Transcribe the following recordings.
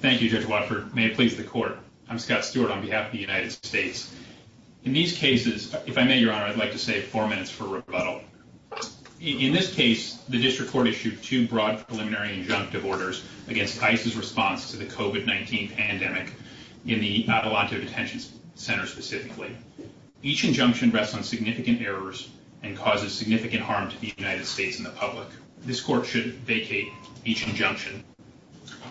Thank you, Judge Watford. May it please the court. I'm Scott Stewart on behalf of the United States. In these cases, if I may, Your Honor, I'd like to say four minutes for rebuttal. In this case, the district court issued two broad preliminary injunctive orders against ISIS response to the COVID-19 pandemic in the Atalanta Detention Center. Specifically, each injunction rests on significant errors and causes significant harm to the United States in the public. This court should vacate each injunction.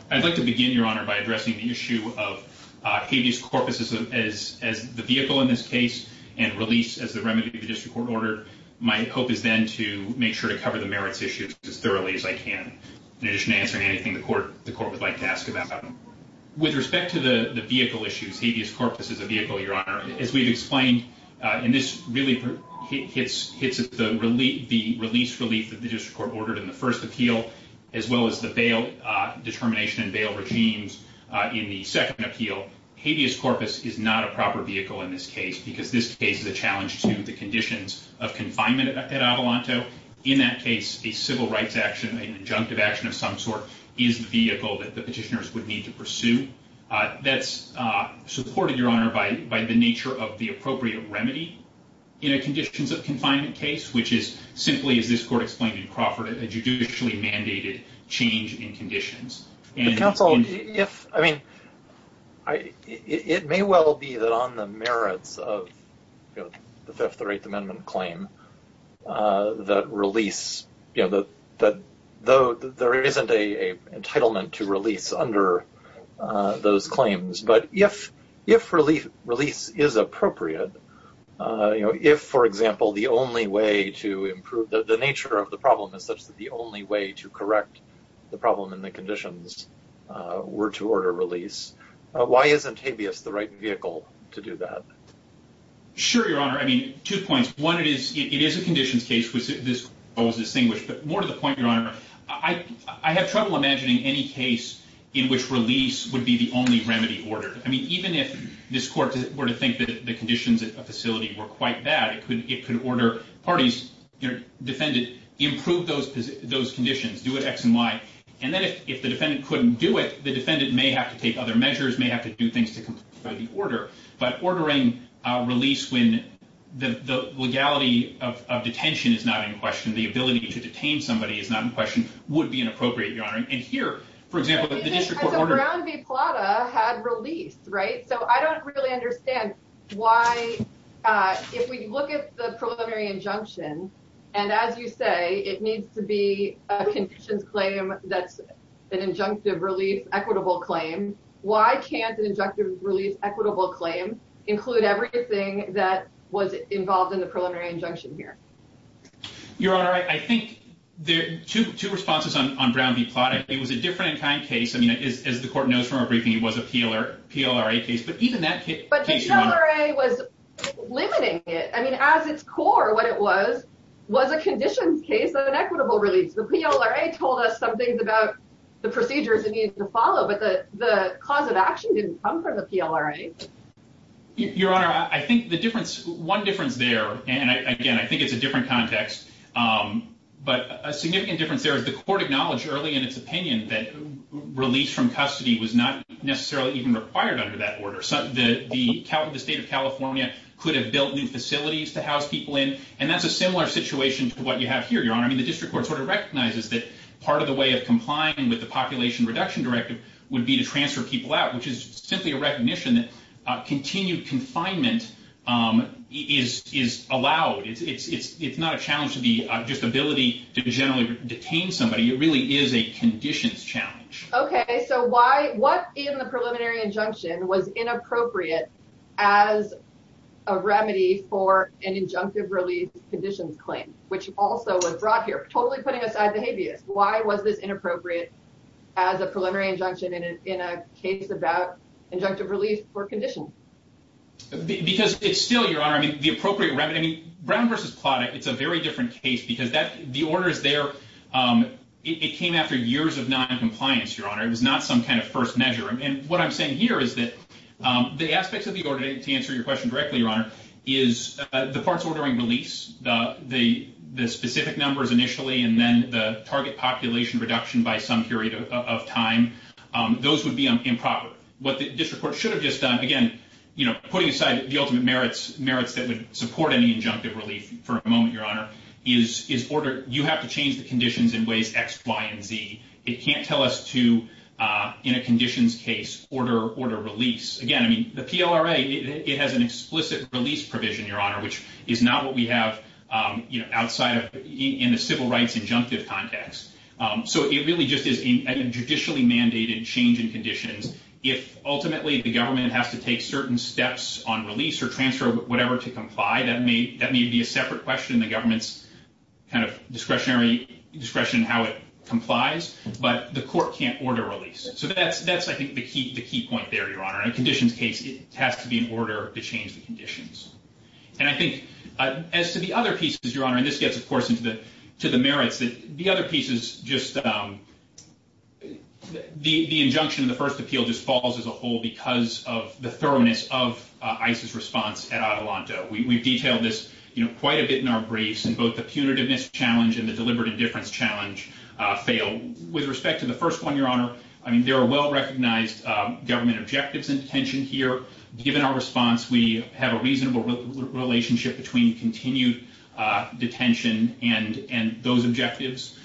I'd like to begin Your Honor by addressing the issue of habeas corpus as the vehicle in this case and release as the remedy of the district court order. My hope is then to make sure to cover the merits issues as thoroughly as I can. In addition to answering anything the court would like to ask about. With respect to the vehicle issues, habeas corpus as a vehicle, Your Honor, as we've explained, and this really hits at the release relief that the district court ordered in the first appeal, as well as the bail determination and bail regimes in the second appeal, habeas corpus is not a proper vehicle in this case because this case is a challenge to the conditions of confinement at Atalanta. In that case, a civil rights action, an injunctive action of some sort, is the vehicle that the petitioners would need to pursue. That's supported, Your Honor, by the nature of the appropriate remedy in a conditions of confinement case, which is simply, as this court explained in Crawford, a judicially mandated change in conditions. Counsel, if, I mean, it may well be that on the merits of the Fifth or Eighth Amendment claim that release, you know, that though there isn't a entitlement to release under those claims, but if release is appropriate, you know, if, for example, the only way to improve the nature of the problem is such that the only way to correct the problem in the conditions were to order release. Why isn't habeas the right vehicle to do that? Sure, Your Honor. I mean, two points. One, it is a conditions case. This was distinguished, but more to the point, Your Honor, I have trouble imagining any case in which release would be the only remedy ordered. I mean, even if this court were to think that the conditions at the facility were quite bad, it could order parties, you know, defend it, improve those conditions, do it X and Y, and then if the defendant couldn't do it, the defendant may have to take other measures, may have to do things to comply with the order. But ordering release when the legality of detention is not in question, the ability to detain somebody is not in question, would be inappropriate, Your Honor. And here, for example, the district court order... Brown v. Plata had release, right? So I don't really understand why, if we look at the preliminary injunction, and as you say, it needs to be a conditions claim that's an injunctive release equitable claim. Why can't an injunctive release equitable claim include everything that was involved in the preliminary injunction here? Your Honor, I think there are two responses on Brown v. Plata. It was a different-in-kind case. I mean, as the court knows from our briefing, it was a PLRA case, but even that case... But the PLRA was limiting it. I mean, as its core, what it was, was a conditions case and an equitable release. The PLRA told us some things about the procedures it needed to follow, but the cause of action didn't come from the PLRA. Your Honor, I think the difference, one difference there, and again, I think it's a different context, but a significant difference there is the court acknowledged early in its opinion that release from custody was not necessarily even required under that order. The state of California could have built new facilities to house people in, and that's a similar situation to what you have here, Your Honor. I mean, the district court sort of recognizes that part of the way of complying with the Population Reduction Directive would be to transfer people out, which is simply a recognition that continued confinement is allowed. It's not a challenge to the just ability to generally detain somebody. It really is a conditions challenge. Okay, so why... What in the preliminary injunction was inappropriate as a remedy for an injunctive release conditions claim, which also was brought here? Totally putting aside the habeas, why was this inappropriate as a preliminary injunction in a case about injunctive release for conditions? Because it's still, Your Honor, the appropriate remedy... Brown v. Plata, it's a very different case because the order is there... It came after years of non-compliance, Your Honor. It was not some kind of first measure. And what I'm saying here is that the aspects of the order, to answer your question directly, Your Honor, is the parts ordering release, the specific numbers initially, and then the target population reduction by some period of time. Those would be improper. What the district court should have just done, again, putting aside the ultimate merits that would support any injunctive relief for a moment, Your Honor, is order... You have to change the conditions in ways X, Y, and Z. It can't tell us to, in a conditions case, order release. Again, the PLRA, it has an explicit release provision, Your Honor, which is not what we have outside of... In the civil rights injunctive context. So it really just is a judicially mandated change in conditions. If, ultimately, the government has to take certain steps on release or transfer whatever to comply, that may be a separate question. The government's discretionary discretion in how it complies, but the court can't order release. So that's, I think, the key point there, Your Honor. In a conditions case, it has to be in order to change the conditions. And I think, as to the other pieces, Your Honor, and this gets, of course, to the merits, the other pieces just... The injunction in the first appeal just falls as a whole because of the thoroughness of ICE's response at Adelanto. We've detailed this quite a bit in our briefs, and both the punitiveness challenge and the deliberate indifference challenge fail. With respect to the first one, Your Honor, there are well-recognized government objectives in detention here. Given our response, we have a reasonable relationship between continued detention and those objectives,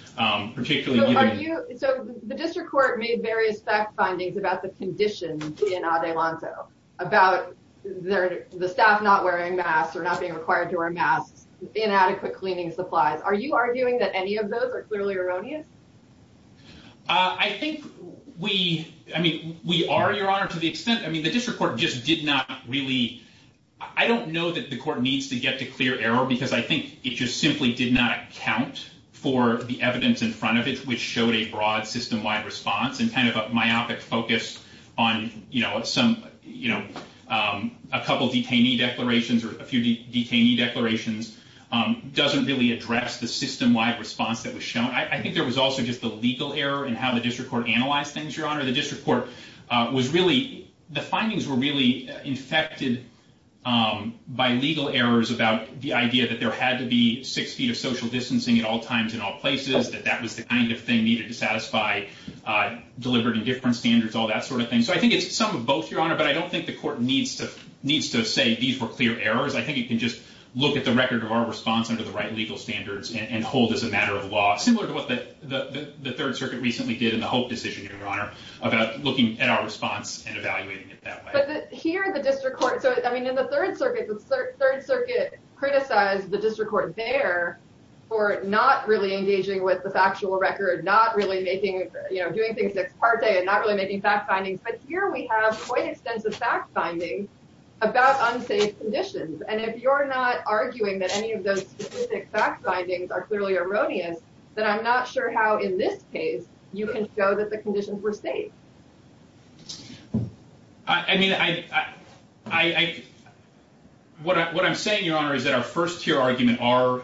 particularly... So the district court made various fact findings about the conditions in Adelanto, about the staff not wearing masks or not being required to wear masks, inadequate cleaning supplies. Are you arguing that any of those are clearly erroneous? I think we are, Your Honor, to the extent... The district court just did not really... I don't know that the court needs to get to clear error because I think it just simply did not account for the evidence in front of it which showed a broad, system-wide response and kind of a myopic focus on a couple detainee declarations or a few detainee declarations doesn't really address the system-wide response that was shown. I think there was also just a legal error in how the district court analyzed things, Your Honor. The district court was really... The findings were really infected by legal errors about the idea that there had to be six feet of social distancing at all times in all places, that that was the kind of thing needed to satisfy deliberate and different standards, all that sort of thing. So I think it's some of both, Your Honor, but I don't think the court needs to say these were clear errors. I think it can just look at the record of our response under the right legal standards and hold as a matter of law, similar to what the Third Circuit recently did in the Hope decision, Your Honor, about looking at our response and evaluating it that way. But here, the district court... In the Third Circuit, the Third Circuit criticized the district court there for not really engaging with the factual record, not really making doing things ex parte and not really making fact findings. But here we have quite extensive fact findings about unsafe conditions. And if you're not arguing that any of those specific fact findings are clearly erroneous, then I'm not sure how, in this case, you can show that the conditions were safe. I mean, I... What I'm saying, Your Honor, is that our first tier argument are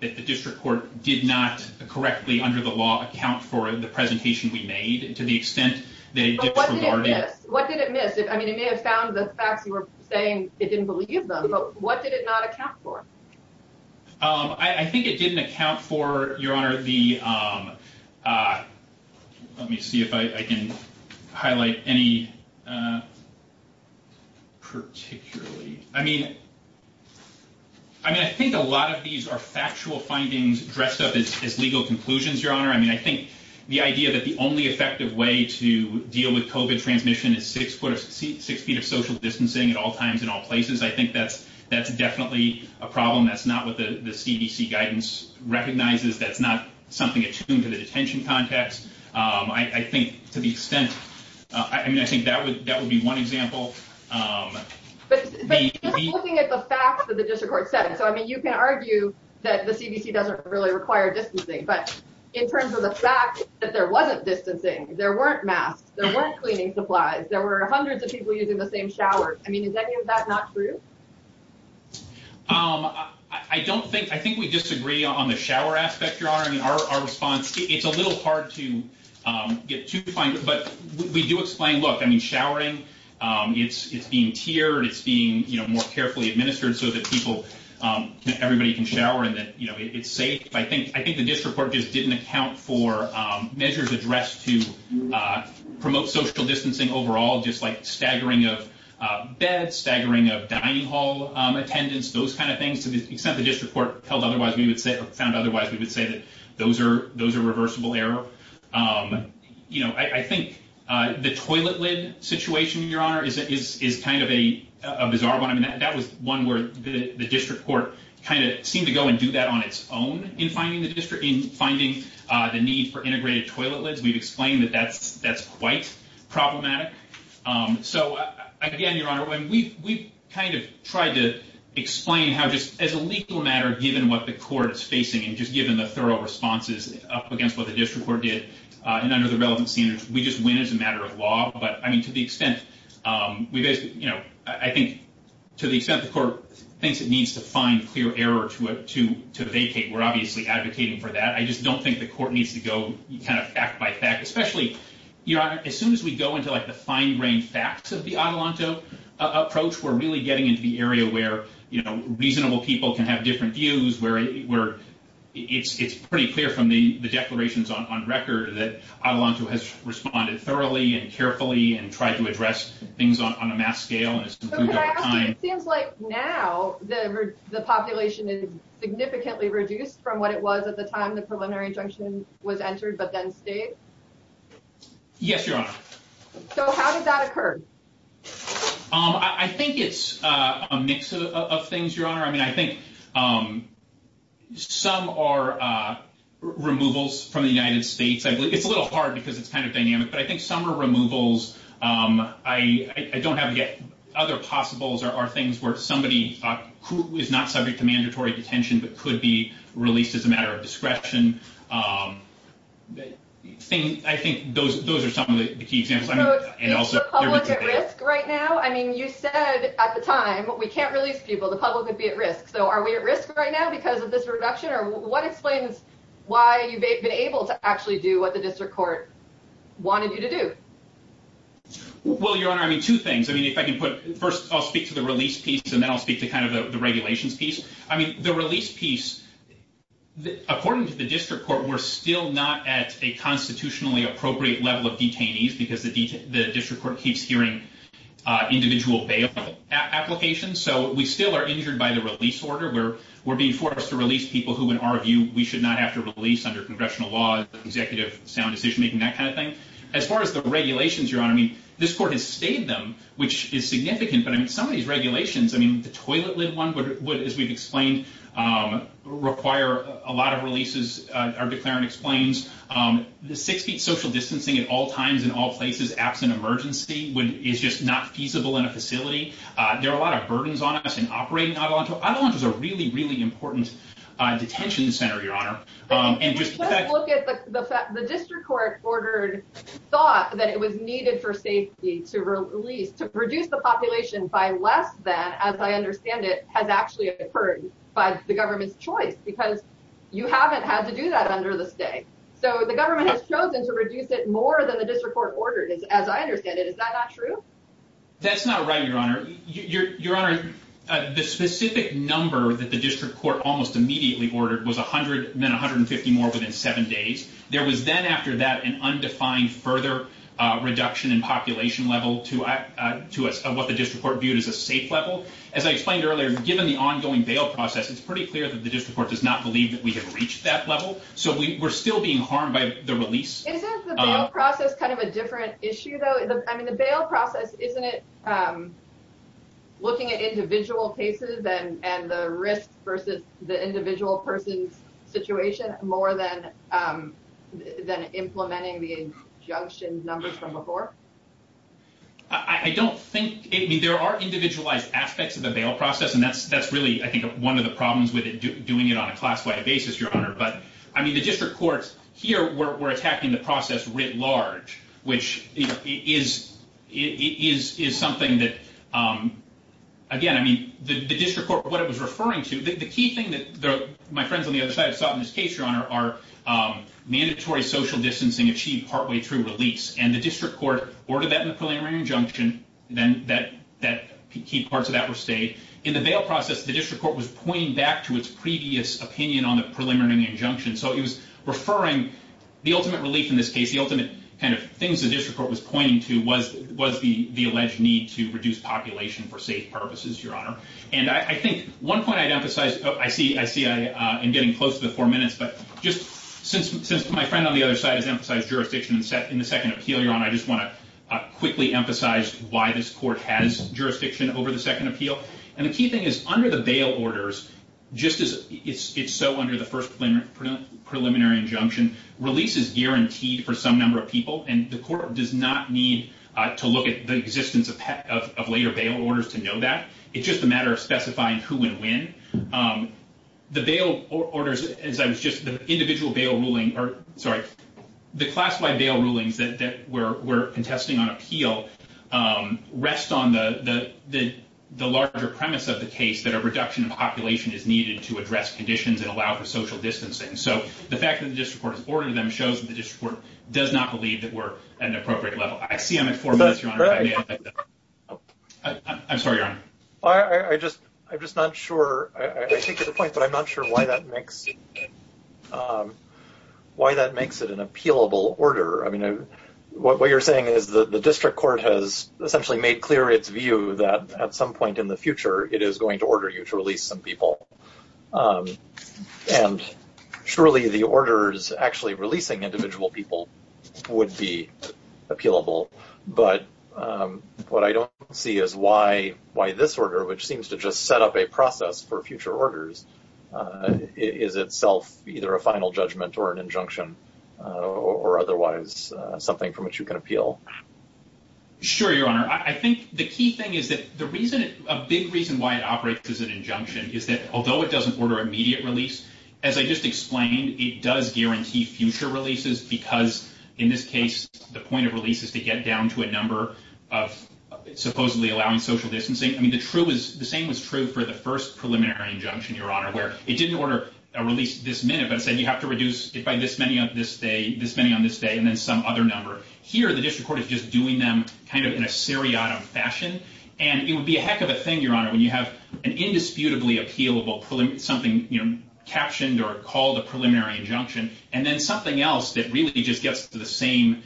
that the district court did not correctly, under the law, account for the presentation we made to the extent that it disregarded... But what did it miss? What did it miss? I mean, it may have found the facts you were saying it didn't believe them, but what did it not account for? I think it didn't account for, Your Honor, the... Let me see if I can highlight any particularly... I mean, I think a lot of these are factual findings dressed up as legal conclusions, Your Honor. I mean, I think the idea that the only effective way to deal with COVID transmission is six feet of social distancing at all times and all places, I think that's definitely a problem. That's not what the CDC guidance recognizes. That's not something that should be attuned to the detention context. I think to the extent... I mean, I think that would be one example. But you're looking at the facts that the district court said. So, I mean, you can argue that the CDC doesn't really require distancing, but in terms of the fact that there wasn't distancing, there weren't masks, there weren't cleaning supplies, there were hundreds of people using the same showers. I mean, is any of that not true? I don't think... I think we disagree on the shower aspect, Your Honor. I mean, our response... It's a little hard to get to, but we do explain, look, I mean, showering, it's being tiered, it's being more carefully administered so that people and everybody can shower and that it's safe. I think the district court just didn't account for measures addressed to promote social distancing overall, just like staggering of beds, staggering of dining hall attendance, those kind of things, to the extent that the district court found otherwise, we would say that those are reversible error. I think the toilet lid situation, Your Honor, is kind of a bizarre one. I mean, that was one where the district court kind of seemed to go and do that on its own in finding the need for integrated toilet lids. We've explained that that's quite problematic. So, again, Your Honor, we've kind of tried to just, as a legal matter, given what the court is facing and just given the thorough responses up against what the district court did and under the relevant standards, we just win as a matter of law. But, I mean, to the extent the court thinks it needs to find clear error to vacate, we're obviously advocating for that. I just don't think the court needs to go kind of fact by fact, especially, Your Honor, as soon as we go into the fine-grained facts of the Adelanto approach, we're really getting into the area where reasonable people can have different views, where it's pretty clear from the declarations on record that Adelanto has responded thoroughly and carefully and tried to address things on a mass scale and has improved over time. It seems like now the population is significantly reduced from what it was at the time the preliminary injunction was entered but then stayed. Yes, Your Honor. So how did that occur? I think it's a mix of things, Your Honor. I mean, I think some are removals from the United States. It's a little hard because it's kind of dynamic, but I think some are removals. I don't have other possibles or things where somebody who is not subject to mandatory detention but could be released as a matter of discretion. I think those are some of the key examples. So is the public at risk right now? I mean, you said at the time, we can't release people. The public would be at risk. So are we at risk right now because of this reduction? Or what explains why you've been able to actually do what the district court wanted you to do? Well, Your Honor, I mean, two things. First, I'll speak to the release piece and then I'll speak to kind of the regulations piece. I mean, the release piece according to the district court, we're still not at a constitutionally appropriate level of detainees because the district court keeps hearing individual bail applications. So we still are injured by the release order. We're being forced to release people who, in our view, we should not have to release under congressional law, executive sound decision making, that kind of thing. As far as the regulations, Your Honor, I mean, this court has stayed them, which is significant, but I mean, some of these regulations, I mean, the toilet lid one, as we've explained, require a lot of releases. Our declarant explains the six feet social distancing at all times, in all places, absent emergency is just not feasible in a facility. There are a lot of burdens on us in operating Adelanto. Adelanto is a really, really important detention center, Your Honor. The district court thought that it was needed for safety to reduce the population by less than, as I understand it, has actually occurred by the government's choice because you haven't had to do that under the state. So the government has chosen to reduce it more than the district court ordered, as I understand it. Is that not true? That's not right, Your Honor. Your Honor, the specific number that the district court almost immediately ordered was 100, then 150 more within seven days. There was then, after that, an undefined further reduction in population level to what the district court viewed as a safe level. As I explained earlier, given the ongoing bail process, it's pretty clear that the district court does not believe that we have reached that level. So we're still being harmed by the release. Isn't the bail process kind of a different issue, though? I mean, the bail process, isn't it looking at individual cases and the risk versus the individual person's situation more than implementing the injunction numbers from before? I don't think... I mean, there are individualized aspects of the bail process, and that's why we're doing it on a class-wide basis, Your Honor. But, I mean, the district court here were attacking the process writ large, which is something that... Again, I mean, the district court, what it was referring to... The key thing that my friends on the other side have sought in this case, Your Honor, are mandatory social distancing achieved partway through release. And the district court ordered that preliminary injunction, then key parts of that were stayed. In the bail process, the district court was pointing back to its previous opinion on the preliminary injunction. So it was referring... The ultimate relief in this case, the ultimate kind of things the district court was pointing to was the alleged need to reduce population for safe purposes, Your Honor. And I think one point I'd emphasize... I see I'm getting close to the four minutes, but just since my friend on the other side has emphasized jurisdiction in the second appeal, Your Honor, I just want to quickly emphasize why this court has approved the second appeal. And the key thing is, under the bail orders, just as it's so under the first preliminary injunction, release is guaranteed for some number of people. And the court does not need to look at the existence of later bail orders to know that. It's just a matter of specifying who and when. The bail orders, as I was just... The individual bail ruling... Sorry. The classified bail rulings that we're contesting on appeal rest on the larger premise of the case that a reduction in population is needed to address conditions and allow for social distancing. So the fact that the district court has ordered them shows that the district court does not believe that we're at an appropriate level. I see I'm at four minutes, Your Honor. I'm sorry, Your Honor. I'm just not sure... I take your point, but I'm not sure why that makes it an appealable order. I mean, what you're saying is that the district court has essentially made clear its view that at some point in the future, it is going to order you to release some people. And surely the orders actually releasing individual people would be appealable. But what I don't see is why this order, which seems to just set up a process for future orders, is itself either a final judgment or an injunction or otherwise something from which you can appeal. Sure, Your Honor. I think the key thing is that a big reason why it operates as an injunction is that although it doesn't order immediate release, as I just explained, it does guarantee future releases because, in this case, the point of release is to get down to a number of supposedly allowing social distancing. I mean, the same was true for the first preliminary injunction, Your Honor, where it didn't order a release this minute, but it said you have to reduce it by this many on this day and then some other number. Here, the district court is just doing them kind of in a seriatim fashion. And it would be a heck of a thing, Your Honor, when you have an indisputably appealable, something captioned or called a preliminary injunction, and then something else that really just gets to the same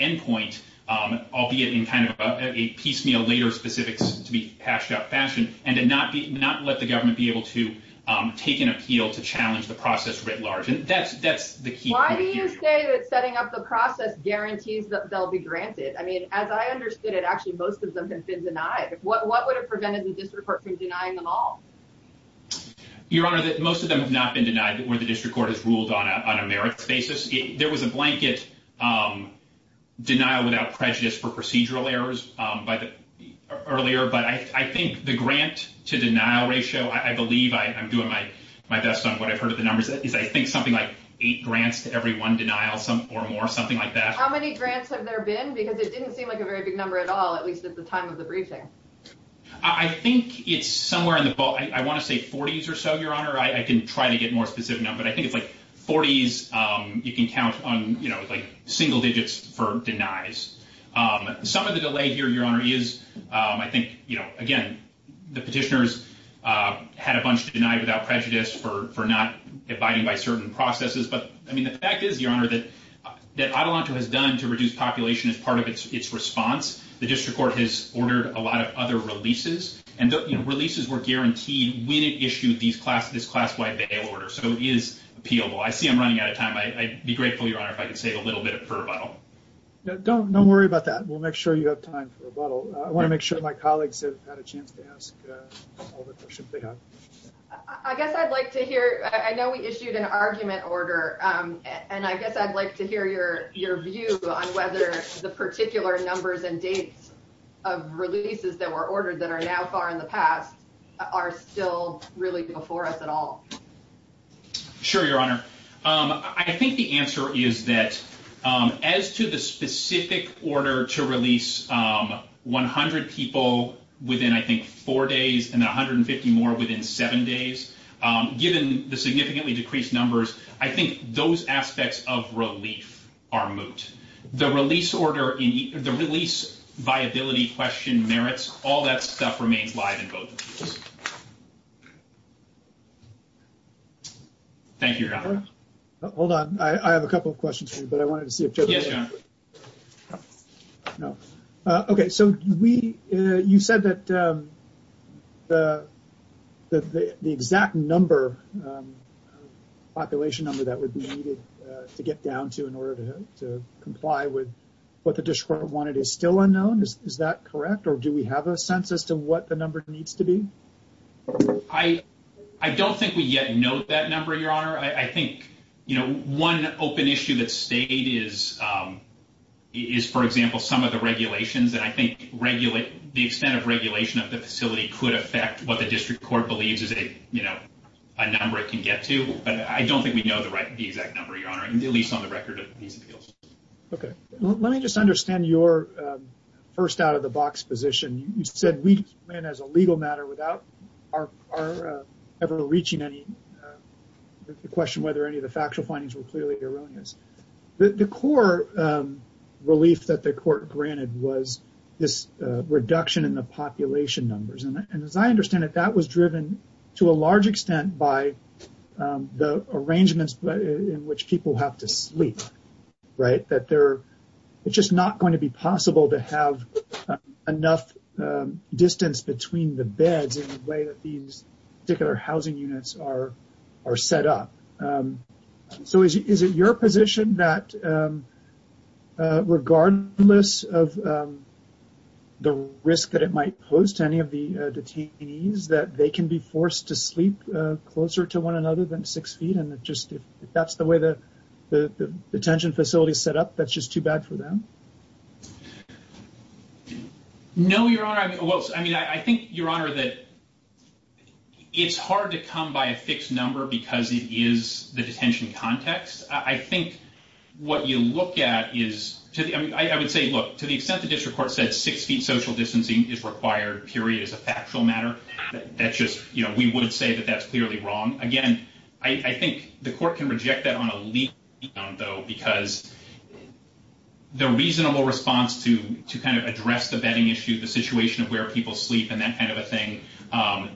endpoint, albeit in kind of a piecemeal later specifics to be hashed out fashion, and to not let the government be able to take an appeal to challenge the process writ large. And that's the key point. Why do you say that setting up the process guarantees that they'll be granted? I mean, as I understood it, actually most of them have been denied. What would have prevented the district court from denying them all? Your Honor, most of them have not been denied where the district court has ruled on a merits basis. There was a blanket denial without prejudice for procedural errors earlier, but I think the grant to denial ratio, I believe, I'm doing my best on what I've heard of the numbers, is I think something like eight grants to every one denial or more, something like that. How many grants have there been? Because it didn't seem like a very big number at all, at least at the time of the briefing. I think it's somewhere in the, I want to say 40s or so, Your Honor. I can try to get more specific, but I think it's like 40s you can count on single digits for denies. Some of the delay here, Your Honor, is I think again, the petitioners had a bunch denied without prejudice for not abiding by certain processes, but I mean, the fact is, Your Honor, that Adelanto has done to reduce population as part of its response. The district court has ordered a lot of other releases, and releases were guaranteed when it issued this class-wide bail order, so it is appealable. I see I'm running out of time. I'd be grateful, Your Honor, if I could save a little bit for rebuttal. Don't worry about that. We'll make sure you have time for rebuttal. I want to make sure my colleagues have had a chance to ask all the questions they have. I guess I'd like to hear, I know we issued an argument order, and I guess I'd like to hear your view on whether the particular numbers and dates of releases that were ordered that are now far in the past are still really before us at all. Sure, Your Honor. I think the answer is that as to the specific order to release 100 people within I think four days, and 150 more within seven days, given the significantly decreased numbers, I think those aspects of relief are moot. The release order, the release viability question merits, all that stuff remains live in both of these. Thank you, Your Honor. Hold on. I have a couple of questions for you, but I wanted to see if Joe... Yes, Your Honor. You said that the exact number, population number that would be needed to get down to in order to comply with what the district wanted is still unknown. Is that correct, or do we have a sense as to what the number needs to be? I don't think we yet know that number, Your Honor. I think one open issue that stayed is for example, some of the regulations, and I think the extent of regulation of the facility could affect what the district court believes is a number it can get to, but I don't think we know the exact number, Your Honor, at least on the record of these appeals. Okay. Let me just understand your first out-of-the-box position. You said we as a legal matter are ever reaching any question whether any of the factual findings were clearly erroneous. The core relief that the court granted was this reduction in the population numbers, and as I understand it, that was driven to a large extent by the arrangements in which people have to sleep. It's just not going to be possible to have enough distance between the beds in the way that these particular housing units are set up. So is it your position that regardless of the risk that it might pose to any of the detainees that they can be forced to sleep closer to one another than six feet, and if that's the way the detention facility is set up, that's just too bad for them? No, Your Honor. I mean, I think Your Honor that it's hard to come by a fixed number because it is the detention context. I think what you look at is, I would say, look, to the extent the district court said six feet social distancing is required, period, as a factual matter, that's just, you know, we would say that that's clearly wrong. Again, I think the court can reject that on a legal ground, though, because the reasonable response to kind of address the bedding issue, the situation of where people sleep and that kind of a thing,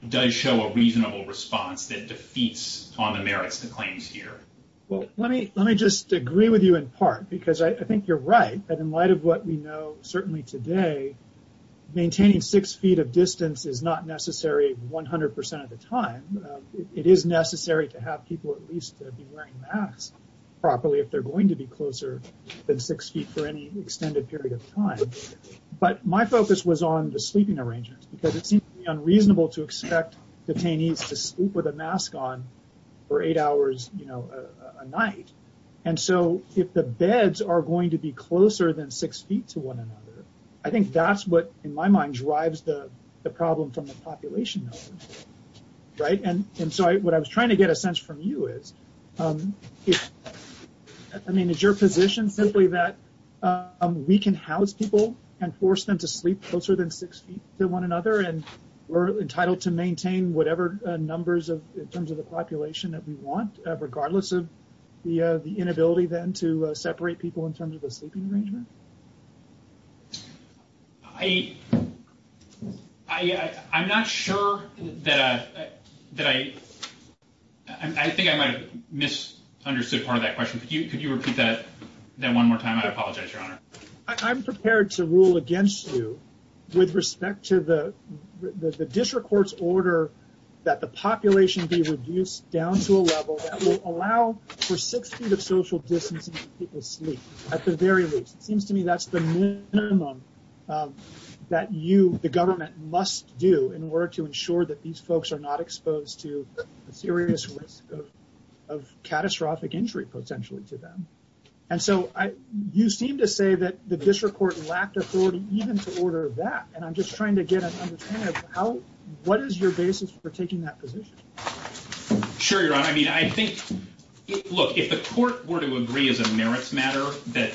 does show a reasonable response that defeats on the merits and claims here. Well, let me just agree with you in part, because I think you're right that in light of what we know certainly today, maintaining six feet of distance is not necessary 100 percent of the time. It is necessary to have people at least be wearing masks properly if they're going to be closer than six feet for any extended period of time. But my focus was on the sleeping arrangements, because it seems unreasonable to expect detainees to sleep with a mask on for eight hours, you know, a night. And so if the beds are going to be closer than six feet to one another, I think that's what, in my mind, drives the problem from the population numbers, right? And so what I was trying to get a sense from you is I mean, is your position simply that we can house people and force them to sleep closer than six feet to one another, and we're entitled to maintain whatever numbers in terms of the population that we want, regardless of the inability then to separate people in terms of the sleeping arrangement? I I'm not sure that I I think I might have misunderstood part of that question. Could you repeat that one more time? I apologize, Your Honor. I'm prepared to rule against you with respect to the district court's order that the population be reduced down to a level that will allow for six feet of social distancing for people to sleep, at the very least. It seems to me that's the minimum that you, the government, must do in order to ensure that these folks are not exposed to a serious risk of catastrophic injury potentially to them. And so you seem to say that the district court lacked authority even to order that, and I'm just trying to get an understanding of what is your basis for taking that position? Sure, Your Honor. I mean, I think, look, if the court were to agree as a merits matter that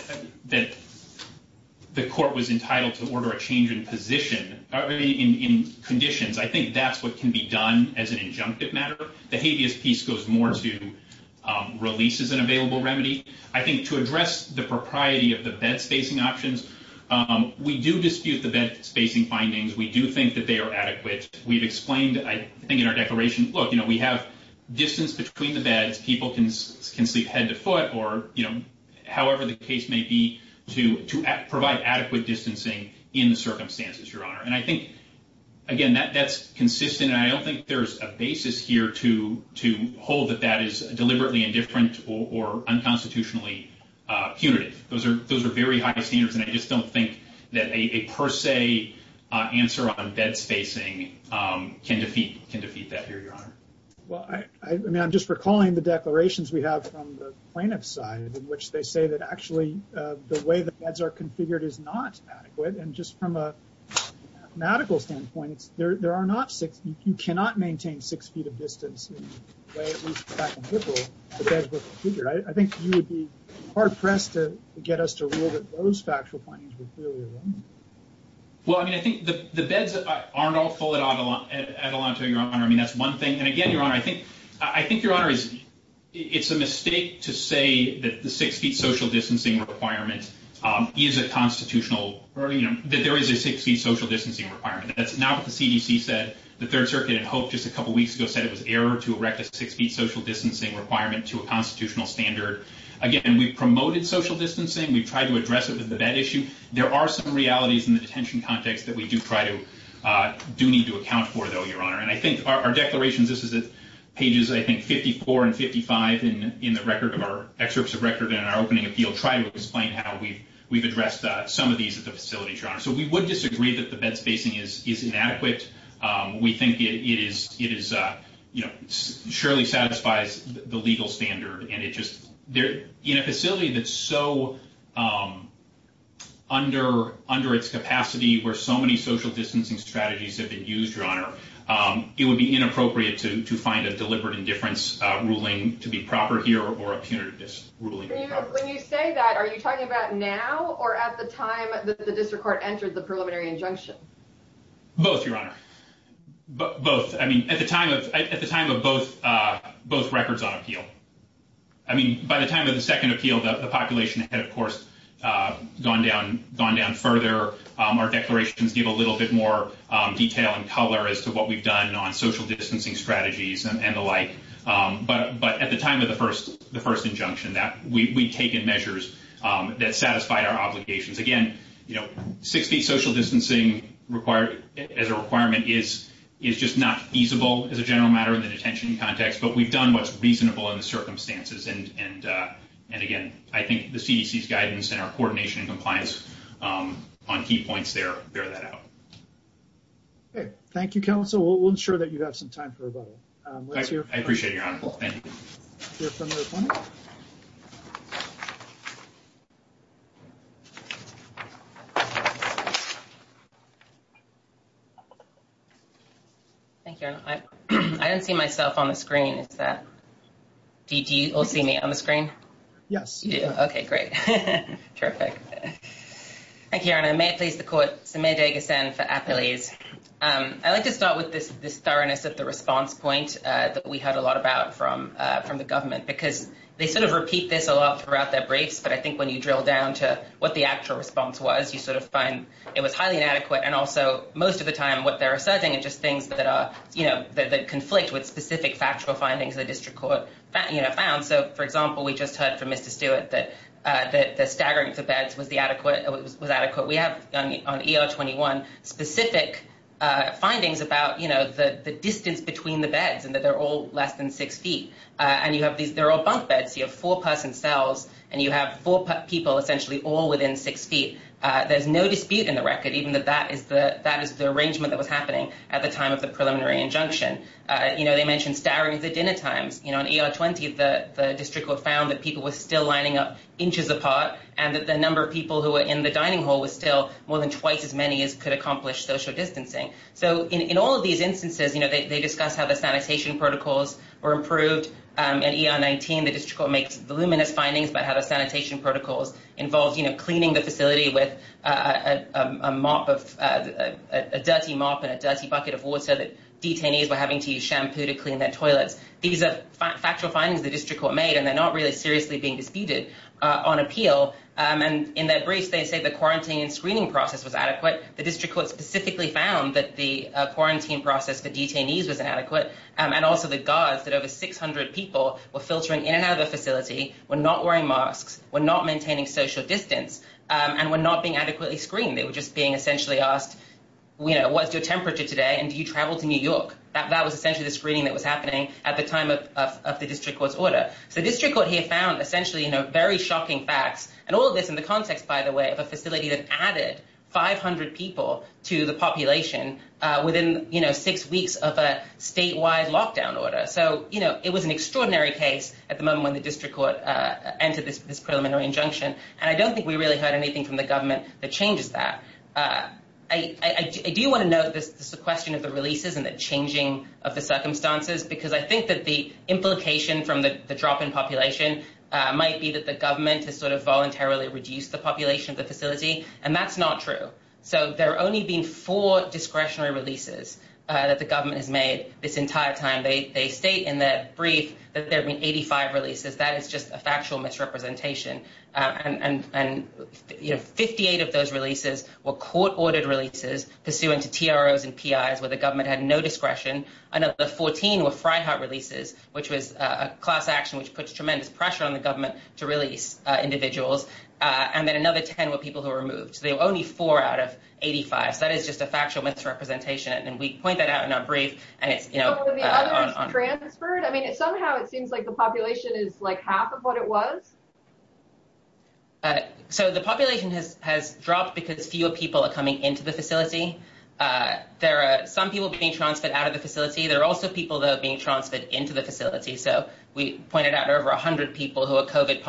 the court was entitled to order a change in position, in conditions, I think that's what can be done as an injunctive matter. The habeas peace goes more to release as an available remedy. I think to address the propriety of the bed spacing options, we do dispute the bed spacing findings. We do think that they are adequate. We've explained, I think in our declaration, look, we have distance between the beds. People can sleep head to foot or however the case may be to provide adequate distancing in the circumstances, Your Honor. And I think, again, that's consistent, and I don't think there's a basis here to hold that that is deliberately indifferent or unconstitutionally punitive. Those are very high standards, and I just don't think that a per se answer on bed spacing can defeat that here, Your Honor. I'm just recalling the declarations we have from the plaintiff's side in which they say that actually the way the beds are configured is not adequate, and just from a mathematical standpoint, there are not You cannot maintain six feet of distance in the way at least back in April the beds were configured. I think you would be hard pressed to get us to rule that those factual findings were clearly wrong. Well, I mean, I think the beds aren't all full at Adelanto, Your Honor. I mean, that's one thing. And again, Your Honor, I think it's a mistake to say that the six feet social distancing requirement is a constitutional, that there is a six feet social distancing requirement. That's not what the CDC said. The Third Circuit in Hope just a couple weeks ago said it was error to erect a six feet social distancing requirement to a constitutional standard. Again, we've promoted social distancing. We've tried to address it with the bed issue. There are some realities in the detention context that we do try to do need to account for, though, Your Honor. And I think our declarations, this is at pages, I think, 54 and 55 in the record of our excerpts of record in our opening appeal, try to explain how we've addressed some of these issues at the facility, Your Honor. So we would disagree that the bed spacing is inadequate. We think it is, you know, surely satisfies the legal standard. And it just, in a facility that's so under its capacity where so many social distancing strategies have been used, Your Honor, it would be inappropriate to find a deliberate indifference ruling to be proper here or a punitive ruling to be proper. When you say that, are you talking about the time that the district court entered the preliminary injunction? Both, Your Honor. Both. I mean, at the time of both records on appeal. I mean, by the time of the second appeal the population had, of course, gone down further. Our declarations gave a little bit more detail and color as to what we've done on social distancing strategies and the like. But at the time of the first injunction, we'd taken measures that satisfied our obligations. Again, you know, six feet social distancing as a requirement is just not feasible as a general matter in the detention context. But we've done what's reasonable in the circumstances. And again, I think the CDC's guidance and our coordination and compliance on key points there bear that out. Okay. Thank you, Counsel. We'll ensure that you have some time for rebuttal. I appreciate it, Your Honor. Thank you. Thank you, Your Honor. Thank you, Your Honor. I don't see myself on the screen. Do you all see me on the screen? Yes. Okay, great. Terrific. Thank you, Your Honor. May it please the Court, Samir Dehghassan for Appalese. I'd like to start with this thoroughness of the response point that we heard a lot about from the government because they sort of repeat this a lot throughout their briefs, but I think when you drill down to what the actual response was, you sort of find it was highly inadequate and also most of the time what they're asserting are just things that are, you know, that conflict with specific factual findings the District Court found. So, for example, we just heard from Mr. Stewart that the staggering of the beds was adequate. We have on ER 21 specific findings about, you know, the distance between the beds and that they're all less than six feet. And you have these, they're all bunk beds. You have four-person cells and you have four people essentially all within six feet. There's no dispute in the record even that that is the arrangement that was happening at the time of the preliminary injunction. You know, they mentioned staggering the dinner times. You know, on ER 20 the District Court found that people were still lining up inches apart and that the number of people who were in the dining hall was still more than twice as many as could accomplish social distancing. So, in all of these instances, you know, they discuss how the sanitation protocols were improved. At ER 19 the District Court makes voluminous findings about how the sanitation protocols involved, you know, cleaning the facility with a mop of a dirty mop and a dirty bucket of water that detainees were having to use shampoo to clean their toilets. These are factual findings the District Court made and they're not really seriously being disputed on appeal. And in their briefs they say the quarantine and screening process was adequate. The District Court specifically found that the screening was inadequate and also the guards that over 600 people were filtering in and out of the facility were not wearing masks, were not maintaining social distance and were not being adequately screened. They were just being essentially asked you know, what's your temperature today and do you travel to New York? That was essentially the screening that was happening at the time of the District Court's order. So, the District Court here found essentially, you know, very shocking facts. And all of this in the context, by the way, of a facility that added 500 people to the population within, you know, six weeks of a statewide lockdown order. So, you know, it was an extraordinary case at the moment when the District Court entered this preliminary injunction. And I don't think we really heard anything from the government that changes that. I do want to note this question of the releases and the changing of the circumstances because I think that the implication from the drop in population might be that the government has sort of voluntarily reduced the population of the facility and that's not true. So, there have only been four discretionary releases that the government has made this entire time. They state in their brief that there have been 85 releases. That is just a factual misrepresentation. And, you know, 58 of those releases were court-ordered releases pursuant to TROs and PIs where the government had no discretion. Another 14 were Fryhart releases, which was a class action which puts tremendous pressure on the government to release individuals. And then another 10 were people who were removed. So, there were only four out of 85. So, that is just a factual misrepresentation. And we point that out in our brief. So, were the others transferred? I mean, somehow it seems like the population is like half of what it was. So, the population has dropped because fewer people are coming into the facility. There are some people being transferred out of the facility. There are also people being transferred into the facility. So, we pointed out over 100 people who are COVID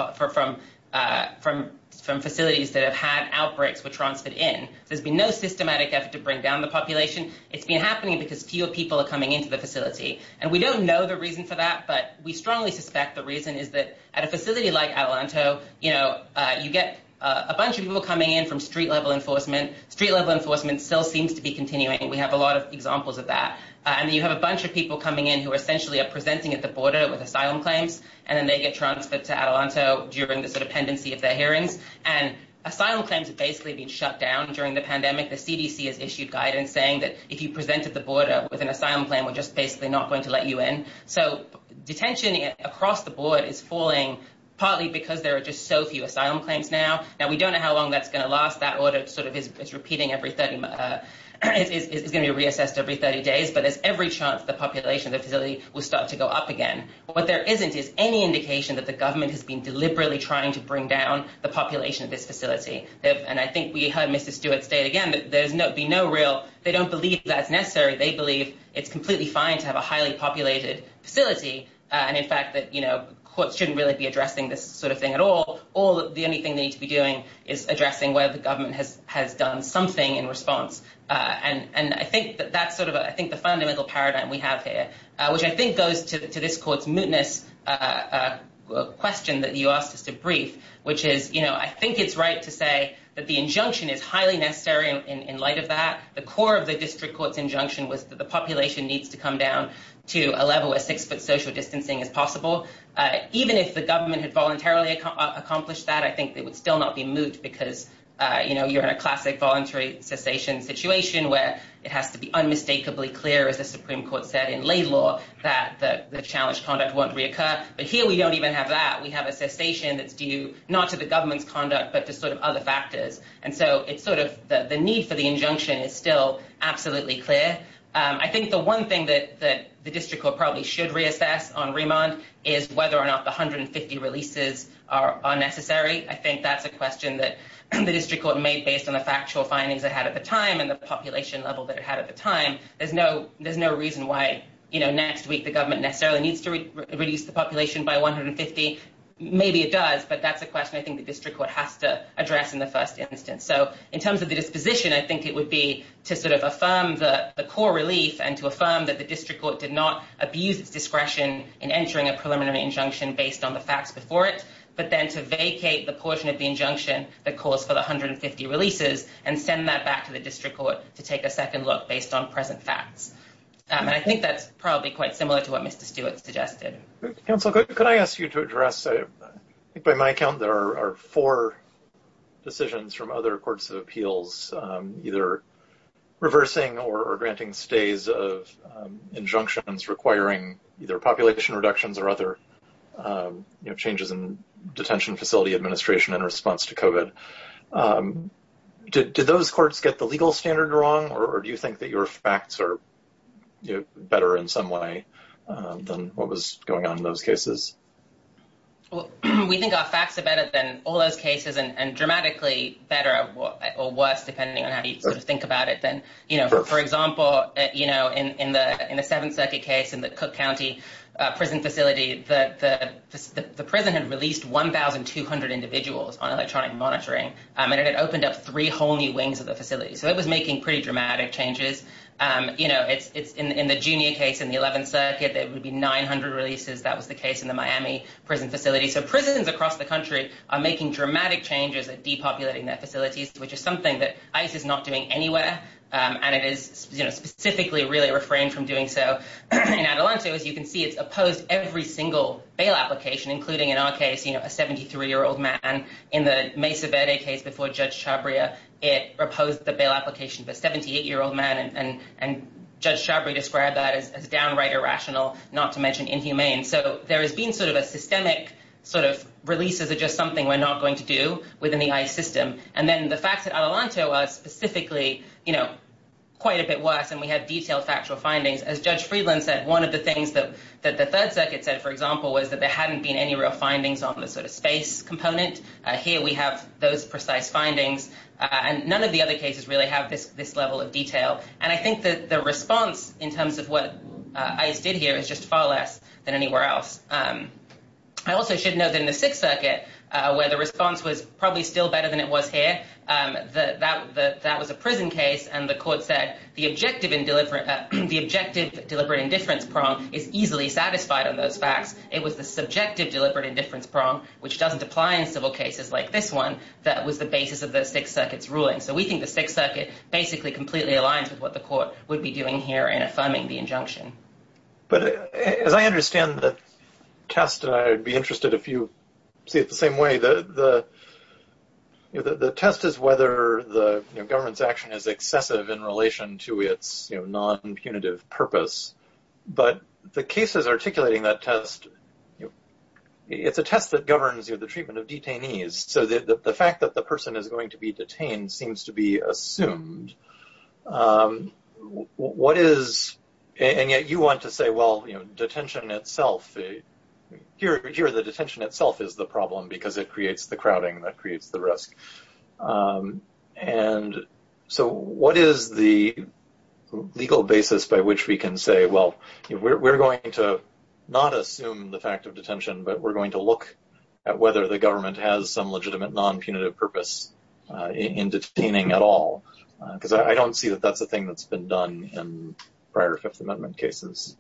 from facilities that have had outbreaks were transferred in. There has been no systematic effort to bring down the population. It has been happening because fewer people are coming into the facility. And we don't know the reason for that, but we strongly suspect the reason is that at a facility like Atalanto, you know, you get a bunch of people coming in from street-level enforcement. Street-level enforcement still seems to be continuing. We have a lot of examples of that. And you have a bunch of people coming in who are essentially presenting at the border with asylum claims. And then they get transferred to Atalanto during the sort of pendency of their hearings. And asylum claims have basically been shut down during the pandemic. The CDC has issued guidance saying that if you presented the border with an asylum plan, we're just basically not going to let you in. So, detention across the board is falling partly because there are just so few asylum claims now. Now, we don't know how long that's going to last. That order sort of is repeating every 30 it's going to be reassessed every 30 days. But there's every chance the population of the facility will start to go up again. What there isn't is any indication that the government has been deliberately trying to bring down the population of this facility. And I think we heard Mrs. Stewart state again that there's be no real, they don't believe that's necessary. They believe it's completely fine to have a highly populated facility. And in fact, that courts shouldn't really be addressing this sort of thing at all. The only thing they need to be doing is addressing whether the government has done something in response. And I think that that's sort of I think the fundamental paradigm we have here, which I think goes to this court's mootness question that you asked us to brief, which is, you know, I think it's right to say that the injunction is highly necessary in light of that. The core of the district court's injunction was that the population needs to come down to a level where six foot social distancing is possible. Even if the government had voluntarily accomplished that, I think it would still not be moot because, you know, you're in a classic voluntary cessation situation where it has to be unmistakably clear, as the Supreme Court said in Laidlaw, that the challenged conduct won't reoccur. But here we don't even have that. We have a cessation that's due not to the government's conduct, but to sort of other factors. And so it's sort of the need for the injunction is still absolutely clear. I think the one thing that the district court probably should reassess on remand is whether or not the 150 releases are necessary. I think that's a question that the district court made based on the population level that it had at the time. There's no reason why next week the government necessarily needs to reduce the population by 150. Maybe it does, but that's a question I think the district court has to address in the first instance. So in terms of the disposition, I think it would be to sort of affirm the core relief and to affirm that the district court did not abuse its discretion in entering a preliminary injunction based on the facts before it, but then to vacate the portion of the injunction that calls for the 150 releases and send that back to the district court to take a second look based on present facts. And I think that's probably quite similar to what Mr. Stewart suggested. Council, could I ask you to address, I think by my count there are four decisions from other courts of appeals either reversing or granting stays of injunctions requiring either population reductions or other changes in detention facility administration in response to COVID. Do those courts get the legal standard wrong or do you think that your facts are better in some way than what was going on in those cases? We think our facts are better than all those cases and dramatically better or worse depending on how you think about it. For example in the Seventh Circuit case in the Cook County prison facility, the prison had released 1,200 individuals on electronic monitoring and it had opened up three whole new wings of the facility. So it was making pretty dramatic changes. In the junior case in the Eleventh Circuit, there would be 900 releases, that was the case in the Miami prison facility. So prisons across the country are making dramatic changes at depopulating their facilities, which is something that ICE is not doing anywhere and it is specifically really refrained from doing so. In Adelanto, as you can see, it's opposed every single bail application including, in our case, a 73-year-old man. In the Mesa Verde case before Judge Chabria, it opposed the bail application for a 78-year-old man and Judge Chabria described that as downright irrational not to mention inhumane. So there has been sort of a systemic release of just something we're not going to do within the ICE system. The facts at Adelanto are specifically quite a bit worse and we have detailed factual findings. As Judge Friedland said, one of the things that the evidence doesn't have any real findings on the sort of space component. Here we have those precise findings and none of the other cases really have this level of detail and I think that the response in terms of what ICE did here is just far less than anywhere else. I also should note that in the Sixth Circuit, where the response was probably still better than it was here, that was a prison case and the court said the objective deliberate indifference prong is easily satisfied on those facts. It was the subjective deliberate indifference prong which doesn't apply in civil cases like this one that was the basis of the Sixth Circuit's ruling. So we think the Sixth Circuit basically completely aligns with what the court would be doing here in affirming the injunction. As I understand the test, I'd be interested if you see it the same way the test is whether the government's action is excessive in relation to its non-punitive purpose, but the cases articulating that test it's a test that governs the treatment of detainees so the fact that the person is going to be detained seems to be assumed what is and yet you want to say well detention itself here the detention itself is the problem because it creates the crowding that creates the risk and so what is the legal basis by which we can say well we're going to not assume the fact of detention but we're going to look at whether the government has some legitimate non-punitive purpose in detaining at all because I don't see that that's a thing that's been done in prior Fifth Amendment cases.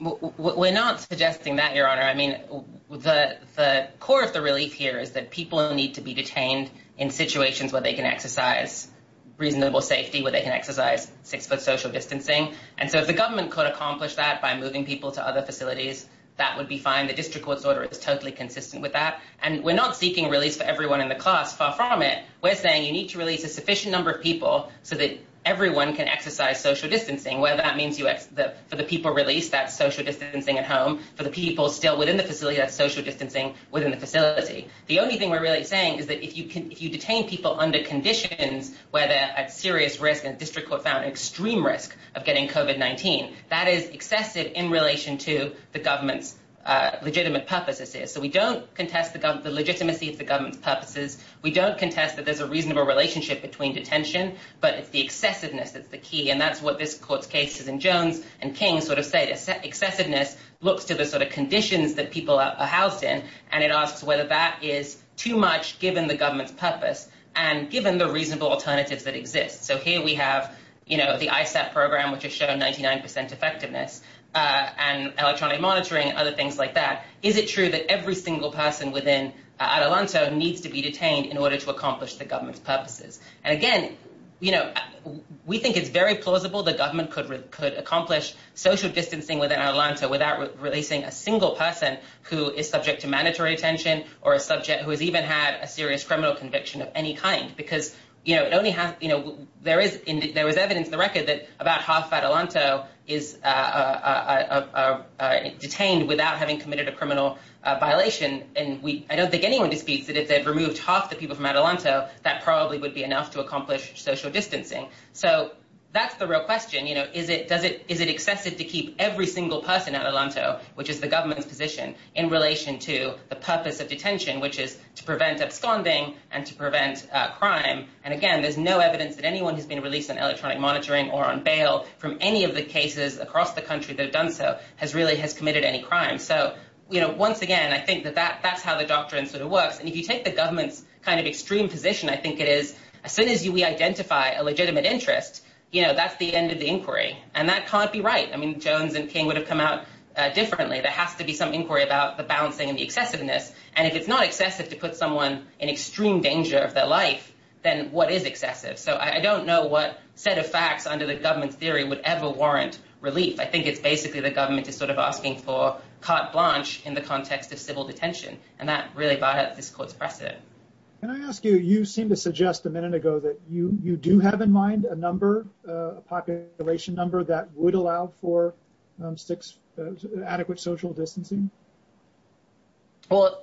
We're not suggesting that your honor. I mean the core of the relief here is that people need to be detained in situations where they can exercise reasonable safety where they can exercise six foot social distancing and so if the government could accomplish that by moving people to other facilities that would be fine. The district court's order is totally consistent with that and we're not seeking release for everyone in the class. Far from it. We're saying you need to release a sufficient number of people so that everyone can exercise social distancing where that means for the people released that's social distancing at home. For the people still within the facility that's social distancing within the facility. The only thing we're really saying is that if you detain people under conditions where they're at serious risk and the district court found extreme risk of getting COVID-19 that is excessive in relation to the government's legitimate purposes. So we don't contest the legitimacy of the government's purposes. We don't contest that there's a reasonable relationship between detention but it's the excessiveness that's the key and that's what this court's cases and Jones and King sort of say. Excessiveness looks to the sort of conditions that people are housed in and it asks whether that is too much given the government's purpose and given the reasonable alternatives that exist. So here we have the ISAT program which has shown 99% effectiveness and electronic monitoring and other things like that. Is it true that every single person within Adelanto needs to be detained in order to accomplish the government's purposes? And again we think it's very plausible the government could accomplish social distancing within Adelanto without releasing a single person who is subject to mandatory detention or a subject who has even had a serious criminal conviction of any kind because there is evidence in the record that about half of Adelanto is detained without having committed a criminal violation and I don't think anyone disputes that if they'd removed half the people from Adelanto that probably would be enough to accomplish social distancing. So that's the real question is it excessive to keep every single person in Adelanto which is the government's position in relation to the purpose of detention which is to prevent absconding and to prevent crime and again there's no evidence that anyone who's been released on electronic monitoring or on bail from any of the cases across the country that have done so has really committed any crime. So once again I think that's how the doctrine sort of works and if you take the government's kind of extreme position I think it is as soon as we identify a legitimate interest that's the end of the inquiry and that can't be right. I mean Jones and King would have come out differently. There has to be some inquiry about the balancing and the excessiveness and if it's not excessive to put someone in extreme danger of their life then what is excessive? So I don't know what set of facts under the government's theory would ever warrant relief. I think it's basically the government is sort of asking for carte blanche in the context of civil detention and that really brought up this court's precedent. Can I ask you, you seem to suggest a minute ago that you do have in mind a number a population number that would allow for adequate social distancing? So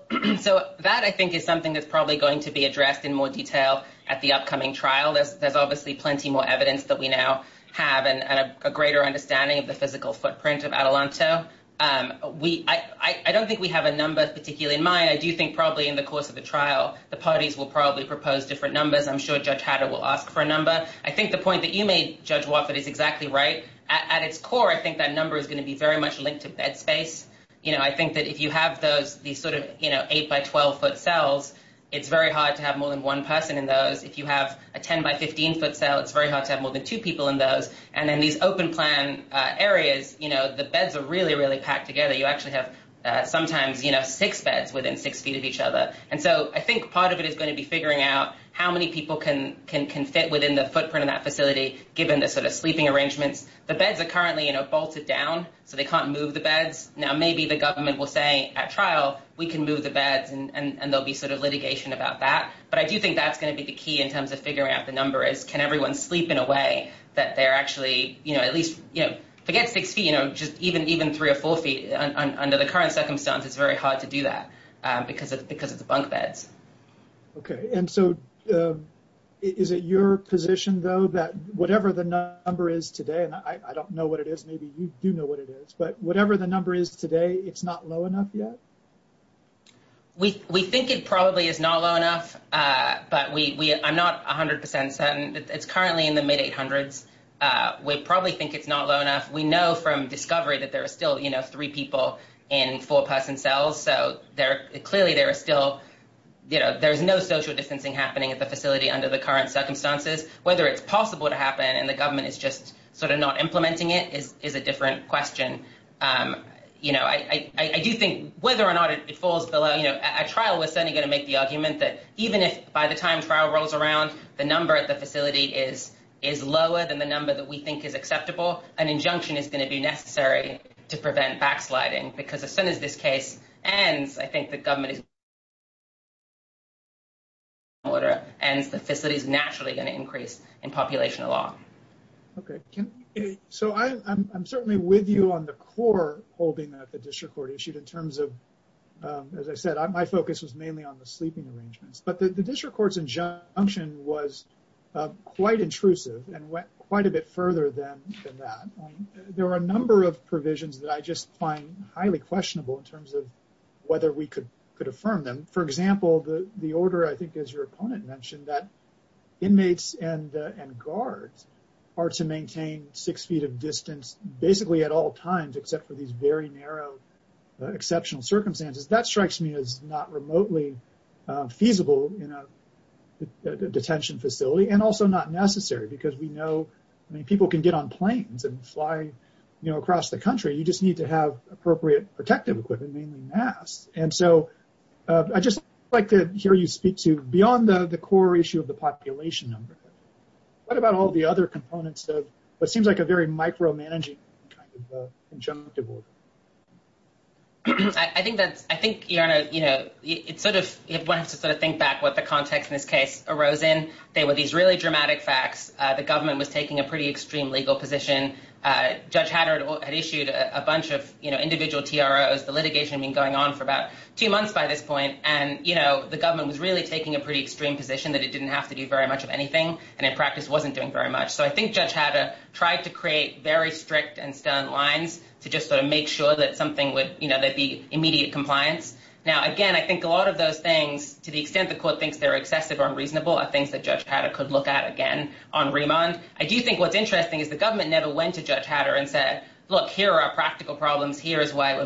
that I think is something that's probably going to be addressed in more detail at the upcoming trial. There's obviously plenty more evidence that we now have and a greater understanding of the physical footprint of Adelanto. I don't think we have a number particularly in mind. I do think probably in the course of the trial the parties will probably propose different numbers. I'm sure Judge Hatter will ask for a number. I think the point that you made Judge Wofford is exactly right. At its core I think that number is going to be very much linked to bed space. I think that if you have these sort of 8 by 12 foot cells it's very hard to have more than one person in those. If you have a 10 by 15 foot cell it's very hard to have more than two people in those. And then these open plan areas the beds are really really packed together. You actually have sometimes six beds within six feet of each other. And so I think part of it is going to be can fit within the footprint of that facility given the sort of sleeping arrangements. The beds are currently bolted down so they can't move the beds. Now maybe the government will say at trial we can move the beds and there will be sort of litigation about that. But I do think that's going to be the key in terms of figuring out the number is can everyone sleep in a way that they're actually at least six feet even three or four feet under the current circumstance it's very hard to do that because of the bunk beds. Okay and so is it your position though that whatever the number is today and I don't know what it is maybe you do know what it is but whatever the number is today it's not low enough yet? We think it probably is not low enough but I'm not 100% certain. It's currently in the mid 800s. We probably think it's not low enough. We know from discovery that there are still three people in four person cells so clearly there is still no social distancing happening at the facility under the current circumstances. Whether it's possible to happen and the government is just sort of not implementing it is a different question. I do think whether or not it falls below at trial we're certainly going to make the argument that even if by the time trial rolls around the number at the facility is lower than the number that we think is acceptable an injunction is going to be necessary to prevent backsliding because as soon as this case ends I think the government is going to be able to make an order and the facility is naturally going to increase in population a lot. I'm certainly with you on the core holding that the district court issued in terms of as I said my focus was mainly on the sleeping arrangements but the district court's injunction was quite intrusive and went quite a bit further than that. There were a number of provisions that I just find highly questionable in terms of whether we could affirm them. For example the order I think as your opponent mentioned that inmates and guards are to maintain six feet of distance basically at all times except for these very narrow exceptional circumstances. That strikes me as not remotely feasible in a detention facility and also not necessary because we know people can get on and off and across the country you just need to have appropriate protective equipment mainly masks. I'd just like to hear you speak to beyond the core issue of the population number. What about all the other components of what seems like a very micro-managing kind of injunctive order? I think it's sort of one has to think back what the context in this case arose in. They were these really dramatic facts. The government was taking a pretty extreme position that it didn't have to do very much of anything and in practice wasn't doing very much. So I think Judge Hatter tried to create very strict and stern lines to just sort of make sure that there'd be immediate compliance. Now again I think a lot of those things to the extent the court thinks they're excessive or unreasonable are things that Judge Hatter could look at again on remand. I do think what's interesting is the government never went to Judge Hatter and said here are our practical problems, here is why it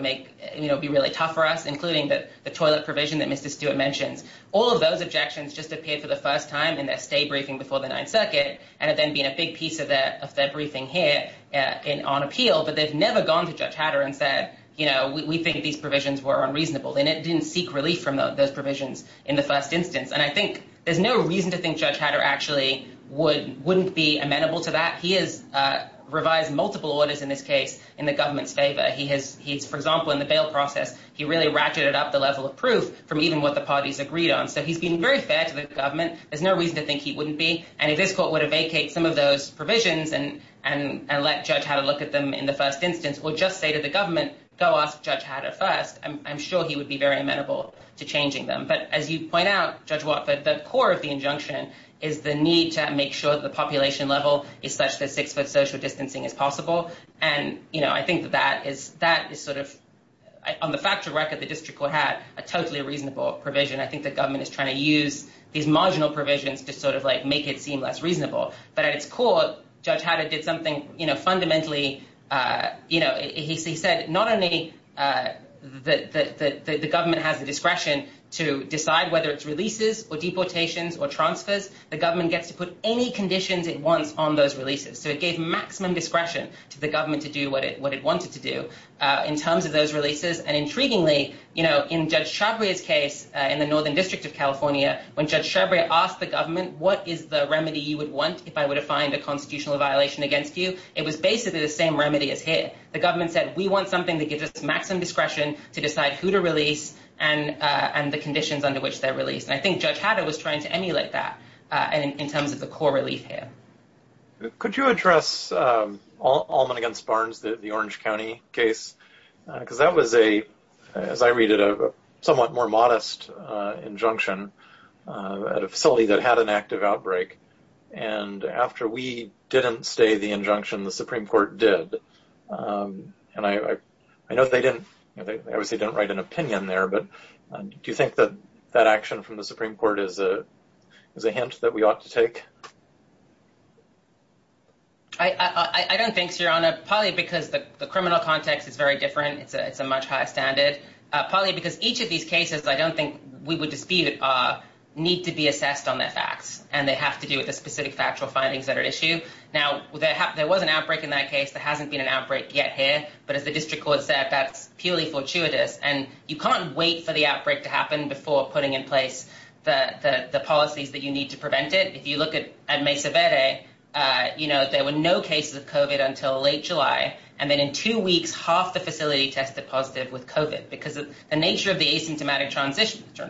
would be really tough for us including the toilet provision that Mr. Stewart mentions. All of those objections just appeared for the first time in their stay briefing before the 9th Circuit and have then been a big piece of their briefing here on appeal. But they've never gone to Judge Hatter and said we think these provisions were unreasonable. They didn't seek relief from those provisions in the first instance. And I think there's no reason to think Judge Hatter actually wouldn't be amenable to that. He has been in the government's favor. For example in the bail process he really ratcheted up the level of proof from even what the parties agreed on. So he's been very fair to the government there's no reason to think he wouldn't be. And if this court would have vacated some of those provisions and let Judge Hatter look at them in the first instance, or just say to the government go ask Judge Hatter first, I'm sure he would be very amenable to changing them. But as you point out Judge Watford, the core of the injunction is the need to make sure that the population level is such that six foot social distancing is possible. And I think that that is on the factual record the district court had a totally reasonable provision. I think the government is trying to use these marginal provisions to make it seem less reasonable. But at its core, Judge Hatter did something fundamentally he said not only the government has the discretion to decide whether it's releases or deportations or transfers, the government gets to put any conditions it wants on those releases. So it gave maximum discretion to the government to do what it wanted to do in terms of those releases. And intriguingly, in Judge Chabria's case in the Northern District of California, when Judge Chabria asked the government what is the remedy you would want if I were to find a constitutional violation against you, it was basically the same remedy as here. The government said we want something that gives us maximum discretion to decide who to release and the conditions under which they're released. And I think Judge Hatter was trying to emulate that in terms of the core relief here. Could you address Allman v. Barnes, the Orange County case? Because that was, as I read it, a somewhat more modest injunction at a facility that had an active outbreak. And after we didn't stay the injunction, the Supreme Court did. And I know they didn't write an opinion there, but do you think that action from the Supreme Court is a hint that we ought to take? I don't think so, Your Honor. Probably because the criminal context is very different. It's a much higher standard. Probably because each of these cases, I don't think we would dispute, need to be assessed on their facts. And they have to do with the specific factual findings that are issued. Now, there was an outbreak in that case. There hasn't been an outbreak yet here. But as the District Court said, that's purely fortuitous. And you can't wait for the outbreak to happen before putting in place the policies that you need to prevent it. If you look at Mesa Verde, there were no cases of COVID until late July. And then in two weeks, half the facility tested positive with COVID. Because the nature of the asymptomatic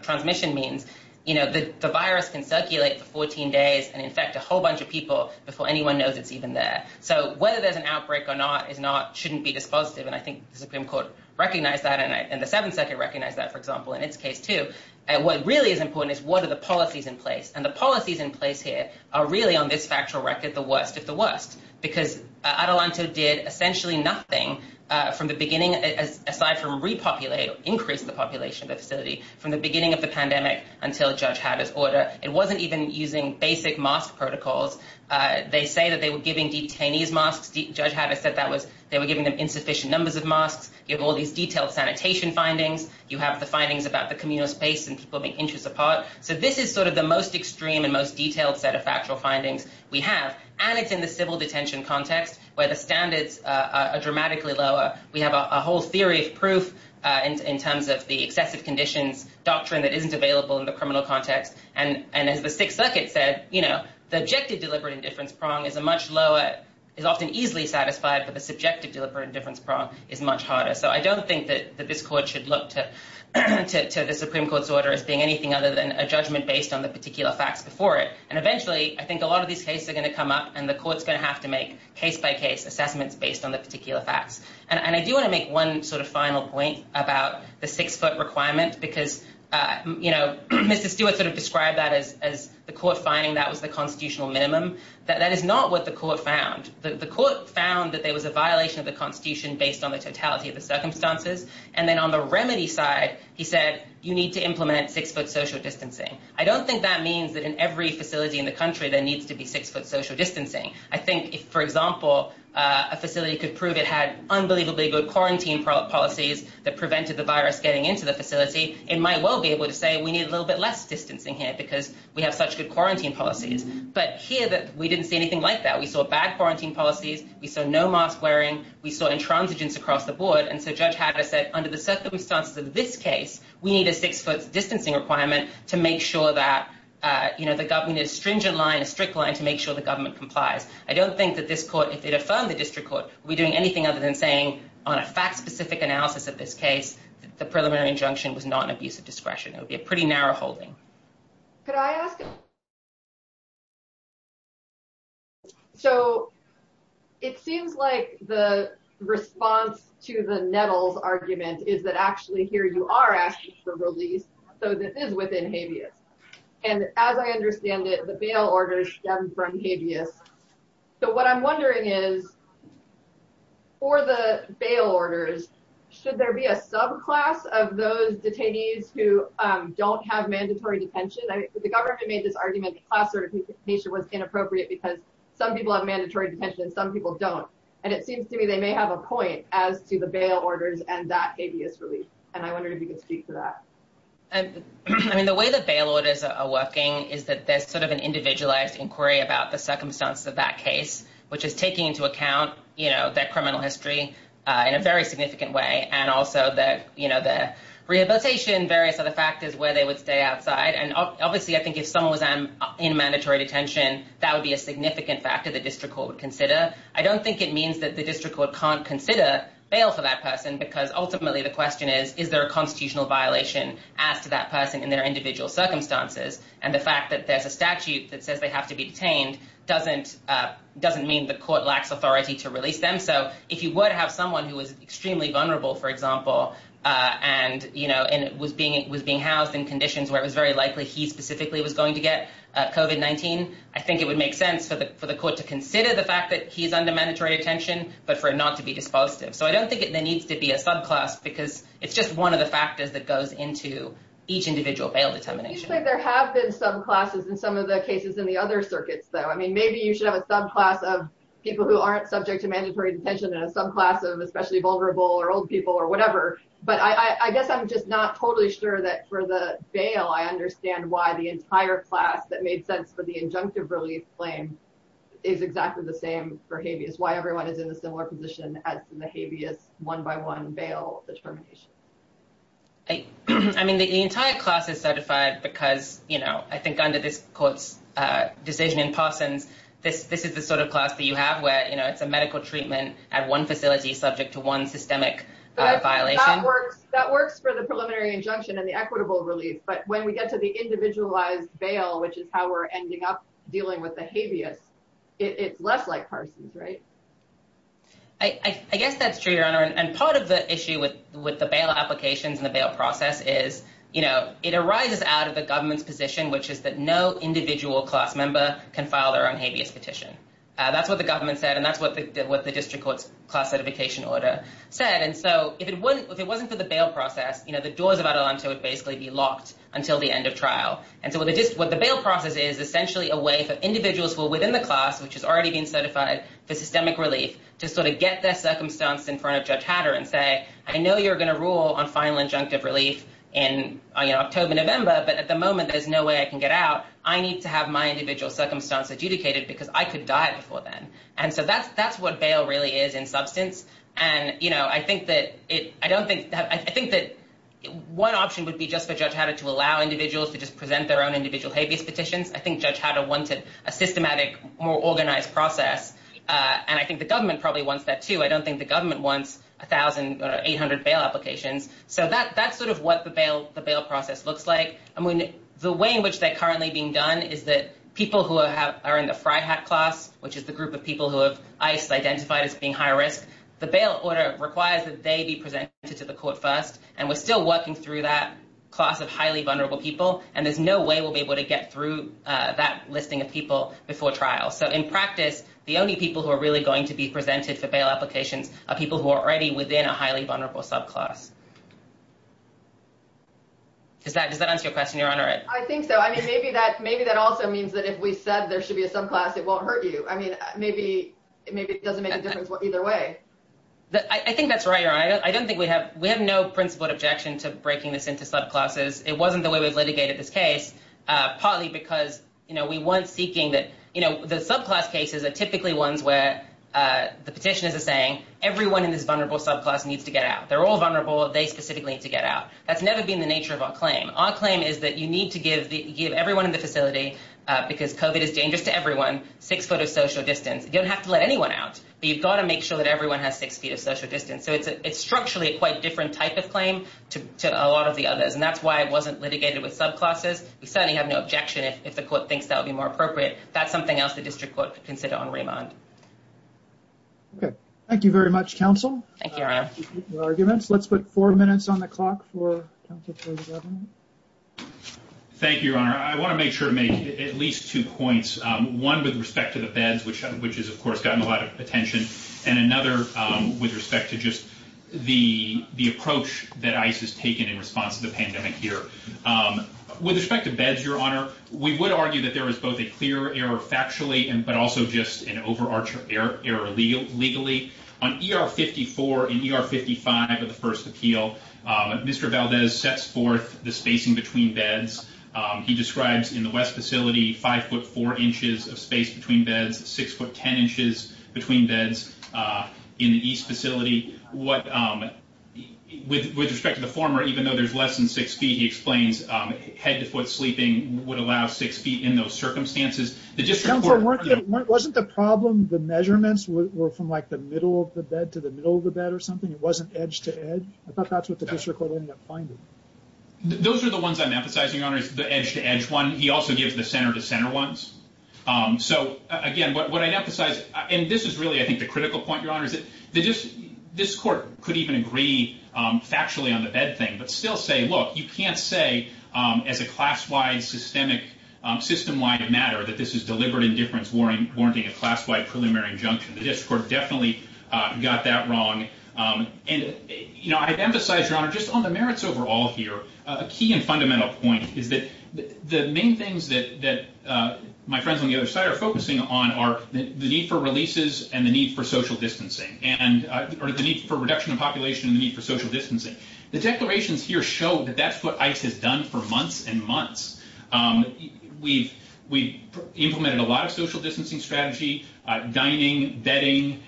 transmission means the virus can circulate for 14 days and infect a whole bunch of people before anyone knows it's even there. So whether there's an outbreak or not shouldn't be dispositive. And I think the Supreme Court recognized that, and the District Court recognized that. So what really is important is what are the policies in place? And the policies in place here are really, on this factual record, the worst of the worst. Because Adelanto did essentially nothing from the beginning, aside from increase the population of the facility, from the beginning of the pandemic until Judge Hatter's order. It wasn't even using basic mask protocols. They say that they were giving detainees masks. Judge Hatter said they were giving them insufficient numbers of masks. You have all these detailed sanitation findings. You have the findings about the communal space and people being inches apart. So this is sort of the most extreme and most detailed set of factual findings we have. And it's in the civil detention context where the standards are dramatically lower. We have a whole theory of proof in terms of the excessive conditions doctrine that isn't available in the criminal context. And as the Sixth Circuit said, you know, the objective deliberate indifference prong is a much lower, is often easily satisfied, but the So I don't think that this court should look to the Supreme Court's order as being anything other than a judgment based on the particular facts before it. And eventually, I think a lot of these cases are going to come up and the court's going to have to make case-by-case assessments based on the particular facts. And I do want to make one sort of final point about the six-foot requirement. Because, you know, Mr. Stewart sort of described that as the court finding that was the constitutional minimum. That is not what the court found. The court found that there was a violation of the constitution based on the totality of the circumstances. And then on the remedy side, he said, you need to implement six-foot social distancing. I don't think that means that in every facility in the country there needs to be six-foot social distancing. I think if, for example, a facility could prove it had unbelievably good quarantine policies that prevented the virus getting into the facility it might well be able to say, we need a little bit less distancing here because we have such good quarantine policies. But here, we didn't see anything like that. We saw bad quarantine policies. We saw no mask wearing. We saw intransigence across the board. And so Judge Hatter said, under the circumstances of this case, we need a six-foot distancing requirement to make sure that, you know, the government needs a stringent line, a strict line, to make sure the government complies. I don't think that this court, if it affirmed the district court, would be doing anything other than saying, on a fact-specific analysis of this case, that the preliminary injunction was not an abuse of discretion. It would be a pretty narrow holding. Could I ask a question? So, it seems like the response to the Nettles argument is that actually here you are asking for release, so that is within habeas. And as I understand it, the bail orders stem from habeas. So what I'm wondering is, for the bail orders, should there be a subclass of those detainees who don't have mandatory detention? The government made this argument that class certification was inappropriate because some people have mandatory detention and some people don't. And it seems to me they may have a point as to the bail orders and that habeas relief. And I wonder if you could speak to that. I mean, the way the bail orders are working is that there's sort of an individualized inquiry about the circumstances of that case, which is taking into account, you know, their criminal history in a very significant way, and also their, you know, their rehabilitation, various other factors where they would stay outside. And obviously, I think if someone was in mandatory detention, that would be a significant factor the district court would consider. I don't think it means that the district court can't consider bail for that person, because ultimately the question is, is there a constitutional violation as to that person in their individual circumstances? And the fact that there's a statute that says they have to be detained doesn't mean the court lacks authority to release them. So if you were to have someone who was extremely vulnerable, for example, and, you know, was being housed in conditions where it was very likely he specifically was going to get COVID-19, I think it would make sense for the court to consider the fact that he's under mandatory detention, but for it not to be dispositive. So I don't think there needs to be a subclass, because it's just one of the factors that goes into each individual bail determination. Usually there have been subclasses in some of the cases in the other circuits, though. I mean, maybe you should have a subclass of people who aren't subject to mandatory detention and a subclass of especially vulnerable or old people or whatever. But I guess I'm just not totally sure that for the bail, I understand why the entire class that made sense for the injunctive relief claim is exactly the same for habeas, why everyone is in a similar position as in the habeas one-by-one bail determination. I mean, the entire class is certified because, you know, I think under this court's decision in Parsons, this is the sort of class that you have where, you know, it's a subject to one systemic violation. That works for the preliminary injunction and the equitable relief, but when we get to the individualized bail, which is how we're ending up dealing with the habeas, it's less like Parsons, right? I guess that's true, Your Honor, and part of the issue with the bail applications and the bail process is, you know, it arises out of the government's position, which is that no individual class member can file their own habeas petition. That's what the government said, and that's what the District Court's class certification order said, and so if it wasn't for the bail process, you know, the doors of Adelanto would basically be locked until the end of trial. And so what the bail process is essentially a way for individuals who are within the class, which has already been certified for systemic relief, to sort of get their circumstance in front of Judge Hatter and say, I know you're going to rule on final injunctive relief in October, November, but at the moment there's no way I can get out. I need to have my individual circumstance adjudicated because I could die before then. And so that's what bail really is in substance, and, you know, I think that one option would be just for Judge Hatter to allow individuals to just present their own individual habeas petitions. I think Judge Hatter wanted a systematic, more organized process, and I think the government probably wants that too. I don't think the government wants 1,800 bail applications. So that's sort of what the bail process looks like. I mean, the way in which they're currently being done is that people who are in the FRIHAT class, which is the group of people who have ICED identified as being high risk, the bail order requires that they be presented to the court first, and we're still working through that class of highly vulnerable people, and there's no way we'll be able to get through that listing of people before trial. So in practice, the only people who are really going to be presented for bail applications are people who are already within a highly vulnerable subclass. Does that answer your question, Your Honor? I think so. I mean, maybe that also means that if we said there should be a subclass, it won't hurt you. I mean, maybe it doesn't make a difference either way. I think that's right, Your Honor. I don't think we have, we have no principled objection to breaking this into subclasses. It wasn't the way we've litigated this case, partly because we weren't seeking that, you know, the subclass cases are typically ones where the petitioners are saying, everyone in this vulnerable subclass needs to get out. They're all vulnerable. They specifically need to get out. That's never been the nature of our claim. Our claim is that you need to give everyone in the facility, because COVID is dangerous to everyone, six foot of social distance. You don't have to let anyone out, but you've got to make sure that everyone has six feet of social distance. So it's structurally a quite different type of claim to a lot of the others, and that's why it wasn't litigated with subclasses. We certainly have no objection if the court thinks that would be more appropriate. That's something else the district court could consider on remand. Okay. Thank you very much, counsel. Thank you, Your Honor. Let's put four minutes on the clock for counsel for the government. Thank you, Your Honor. I want to make sure to make at least two points. One with respect to the beds, which is, of course, gotten a lot of attention, and another with respect to just the approach that ICE has taken in response to the pandemic here. With respect to beds, Your Honor, we would argue that there is both a clear error factually, but also just an overarching error legally. On ER 54 and ER 55 of the first appeal, Mr. Valdez sets forth the spacing between beds. He describes in the West facility 5'4 inches of space between beds, 6'10 inches between beds in the East facility. With respect to the former, even though there's less than six feet, he explains head to foot sleeping would allow six feet in those circumstances. Wasn't the problem the measurements were from like the middle of the bed to the middle of the bed or something? It wasn't edge to edge? I thought that's what the district court ended up finding. Those are the ones I'm emphasizing, Your Honor, the edge to edge one. He also gives the center to center ones. So, again, what I emphasize, and this is really, I think, the critical point, Your Honor, is that this court could even agree factually on the bed thing, but still say, look, you can't say as a class-wide, systemic, system-wide matter that this is deliberate indifference warranting a class-wide preliminary injunction. The district court definitely got that wrong. I'd emphasize, Your Honor, just on the merits overall here, a key and fundamental point is that the main things that my friends on the other side are focusing on are the need for releases and the need for social distancing, or the need for reduction of population and the need for social distancing. The declarations here show that that's what ICE has done for months and months. We've implemented a lot of social distancing strategy, dining, bedding.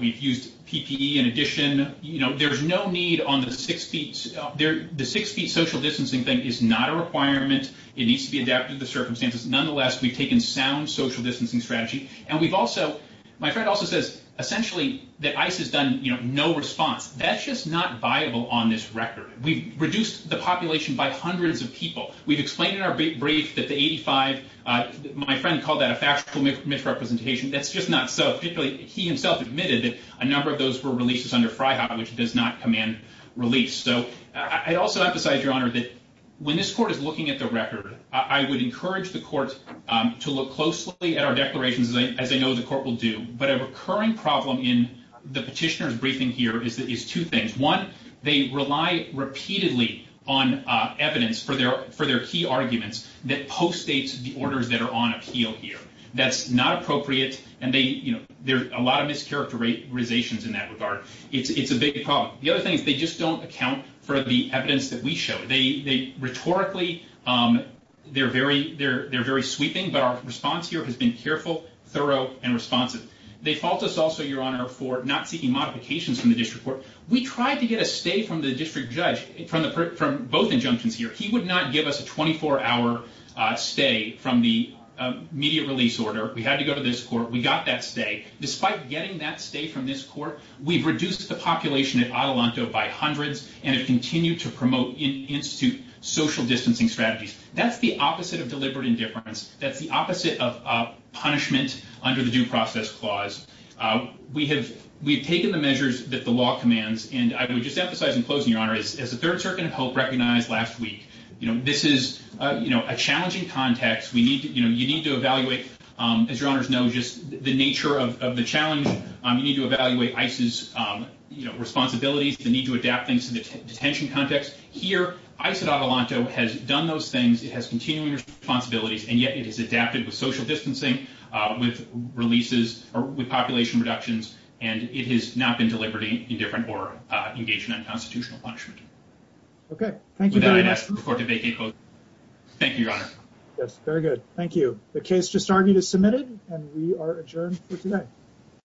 We've used PPE in addition. There's no need on the six feet social distancing thing is not a requirement. It needs to be adapted to the circumstances. Nonetheless, we've taken sound social distancing strategy. My friend also says, essentially, that ICE has done no response. That's just not viable on this record. We've reduced the population by hundreds of people. We've explained in our brief that the factual misrepresentation, that's just not so. Particularly, he himself admitted that a number of those were releases under FRIHOP, which does not command release. I'd also emphasize, Your Honor, that when this court is looking at the record, I would encourage the court to look closely at our declarations as I know the court will do. But a recurring problem in the petitioner's briefing here is two things. One, they rely repeatedly on evidence for their key arguments that post-states the orders that are on appeal here. That's not appropriate. There are a lot of mischaracterizations in that regard. It's a big problem. The other thing is they just don't account for the evidence that we show. Rhetorically, they're very sweeping, but our response here has been careful, thorough, and responsive. They fault us also, Your Honor, for not seeking modifications from the district court. We tried to get a stay from the district judge from both injunctions here. He would not give us a 24-hour stay from the immediate release order. We had to go to this court. We got that stay. Despite getting that stay from this court, we've reduced the population at Adelanto by hundreds and have continued to promote in-institute social distancing strategies. That's the opposite of deliberate indifference. That's the opposite of punishment under the Due Process Clause. We have taken the measures that the law commands. I would just emphasize in closing, Your Honor, as the Third Circuit of Hope recognized last week, this is a challenging context. You need to evaluate, as Your Honor knows, the nature of the challenge. You need to evaluate ICE's responsibilities, the need to adapt things to the detention context. Here, ICE at Adelanto has done those things. It has continuing responsibilities, and yet it has adapted with social distancing, with population reductions, and it has not been deliberate indifference or engaged in unconstitutional punishment. Thank you, Your Honor. The case just argued is submitted, and we are adjourned for today.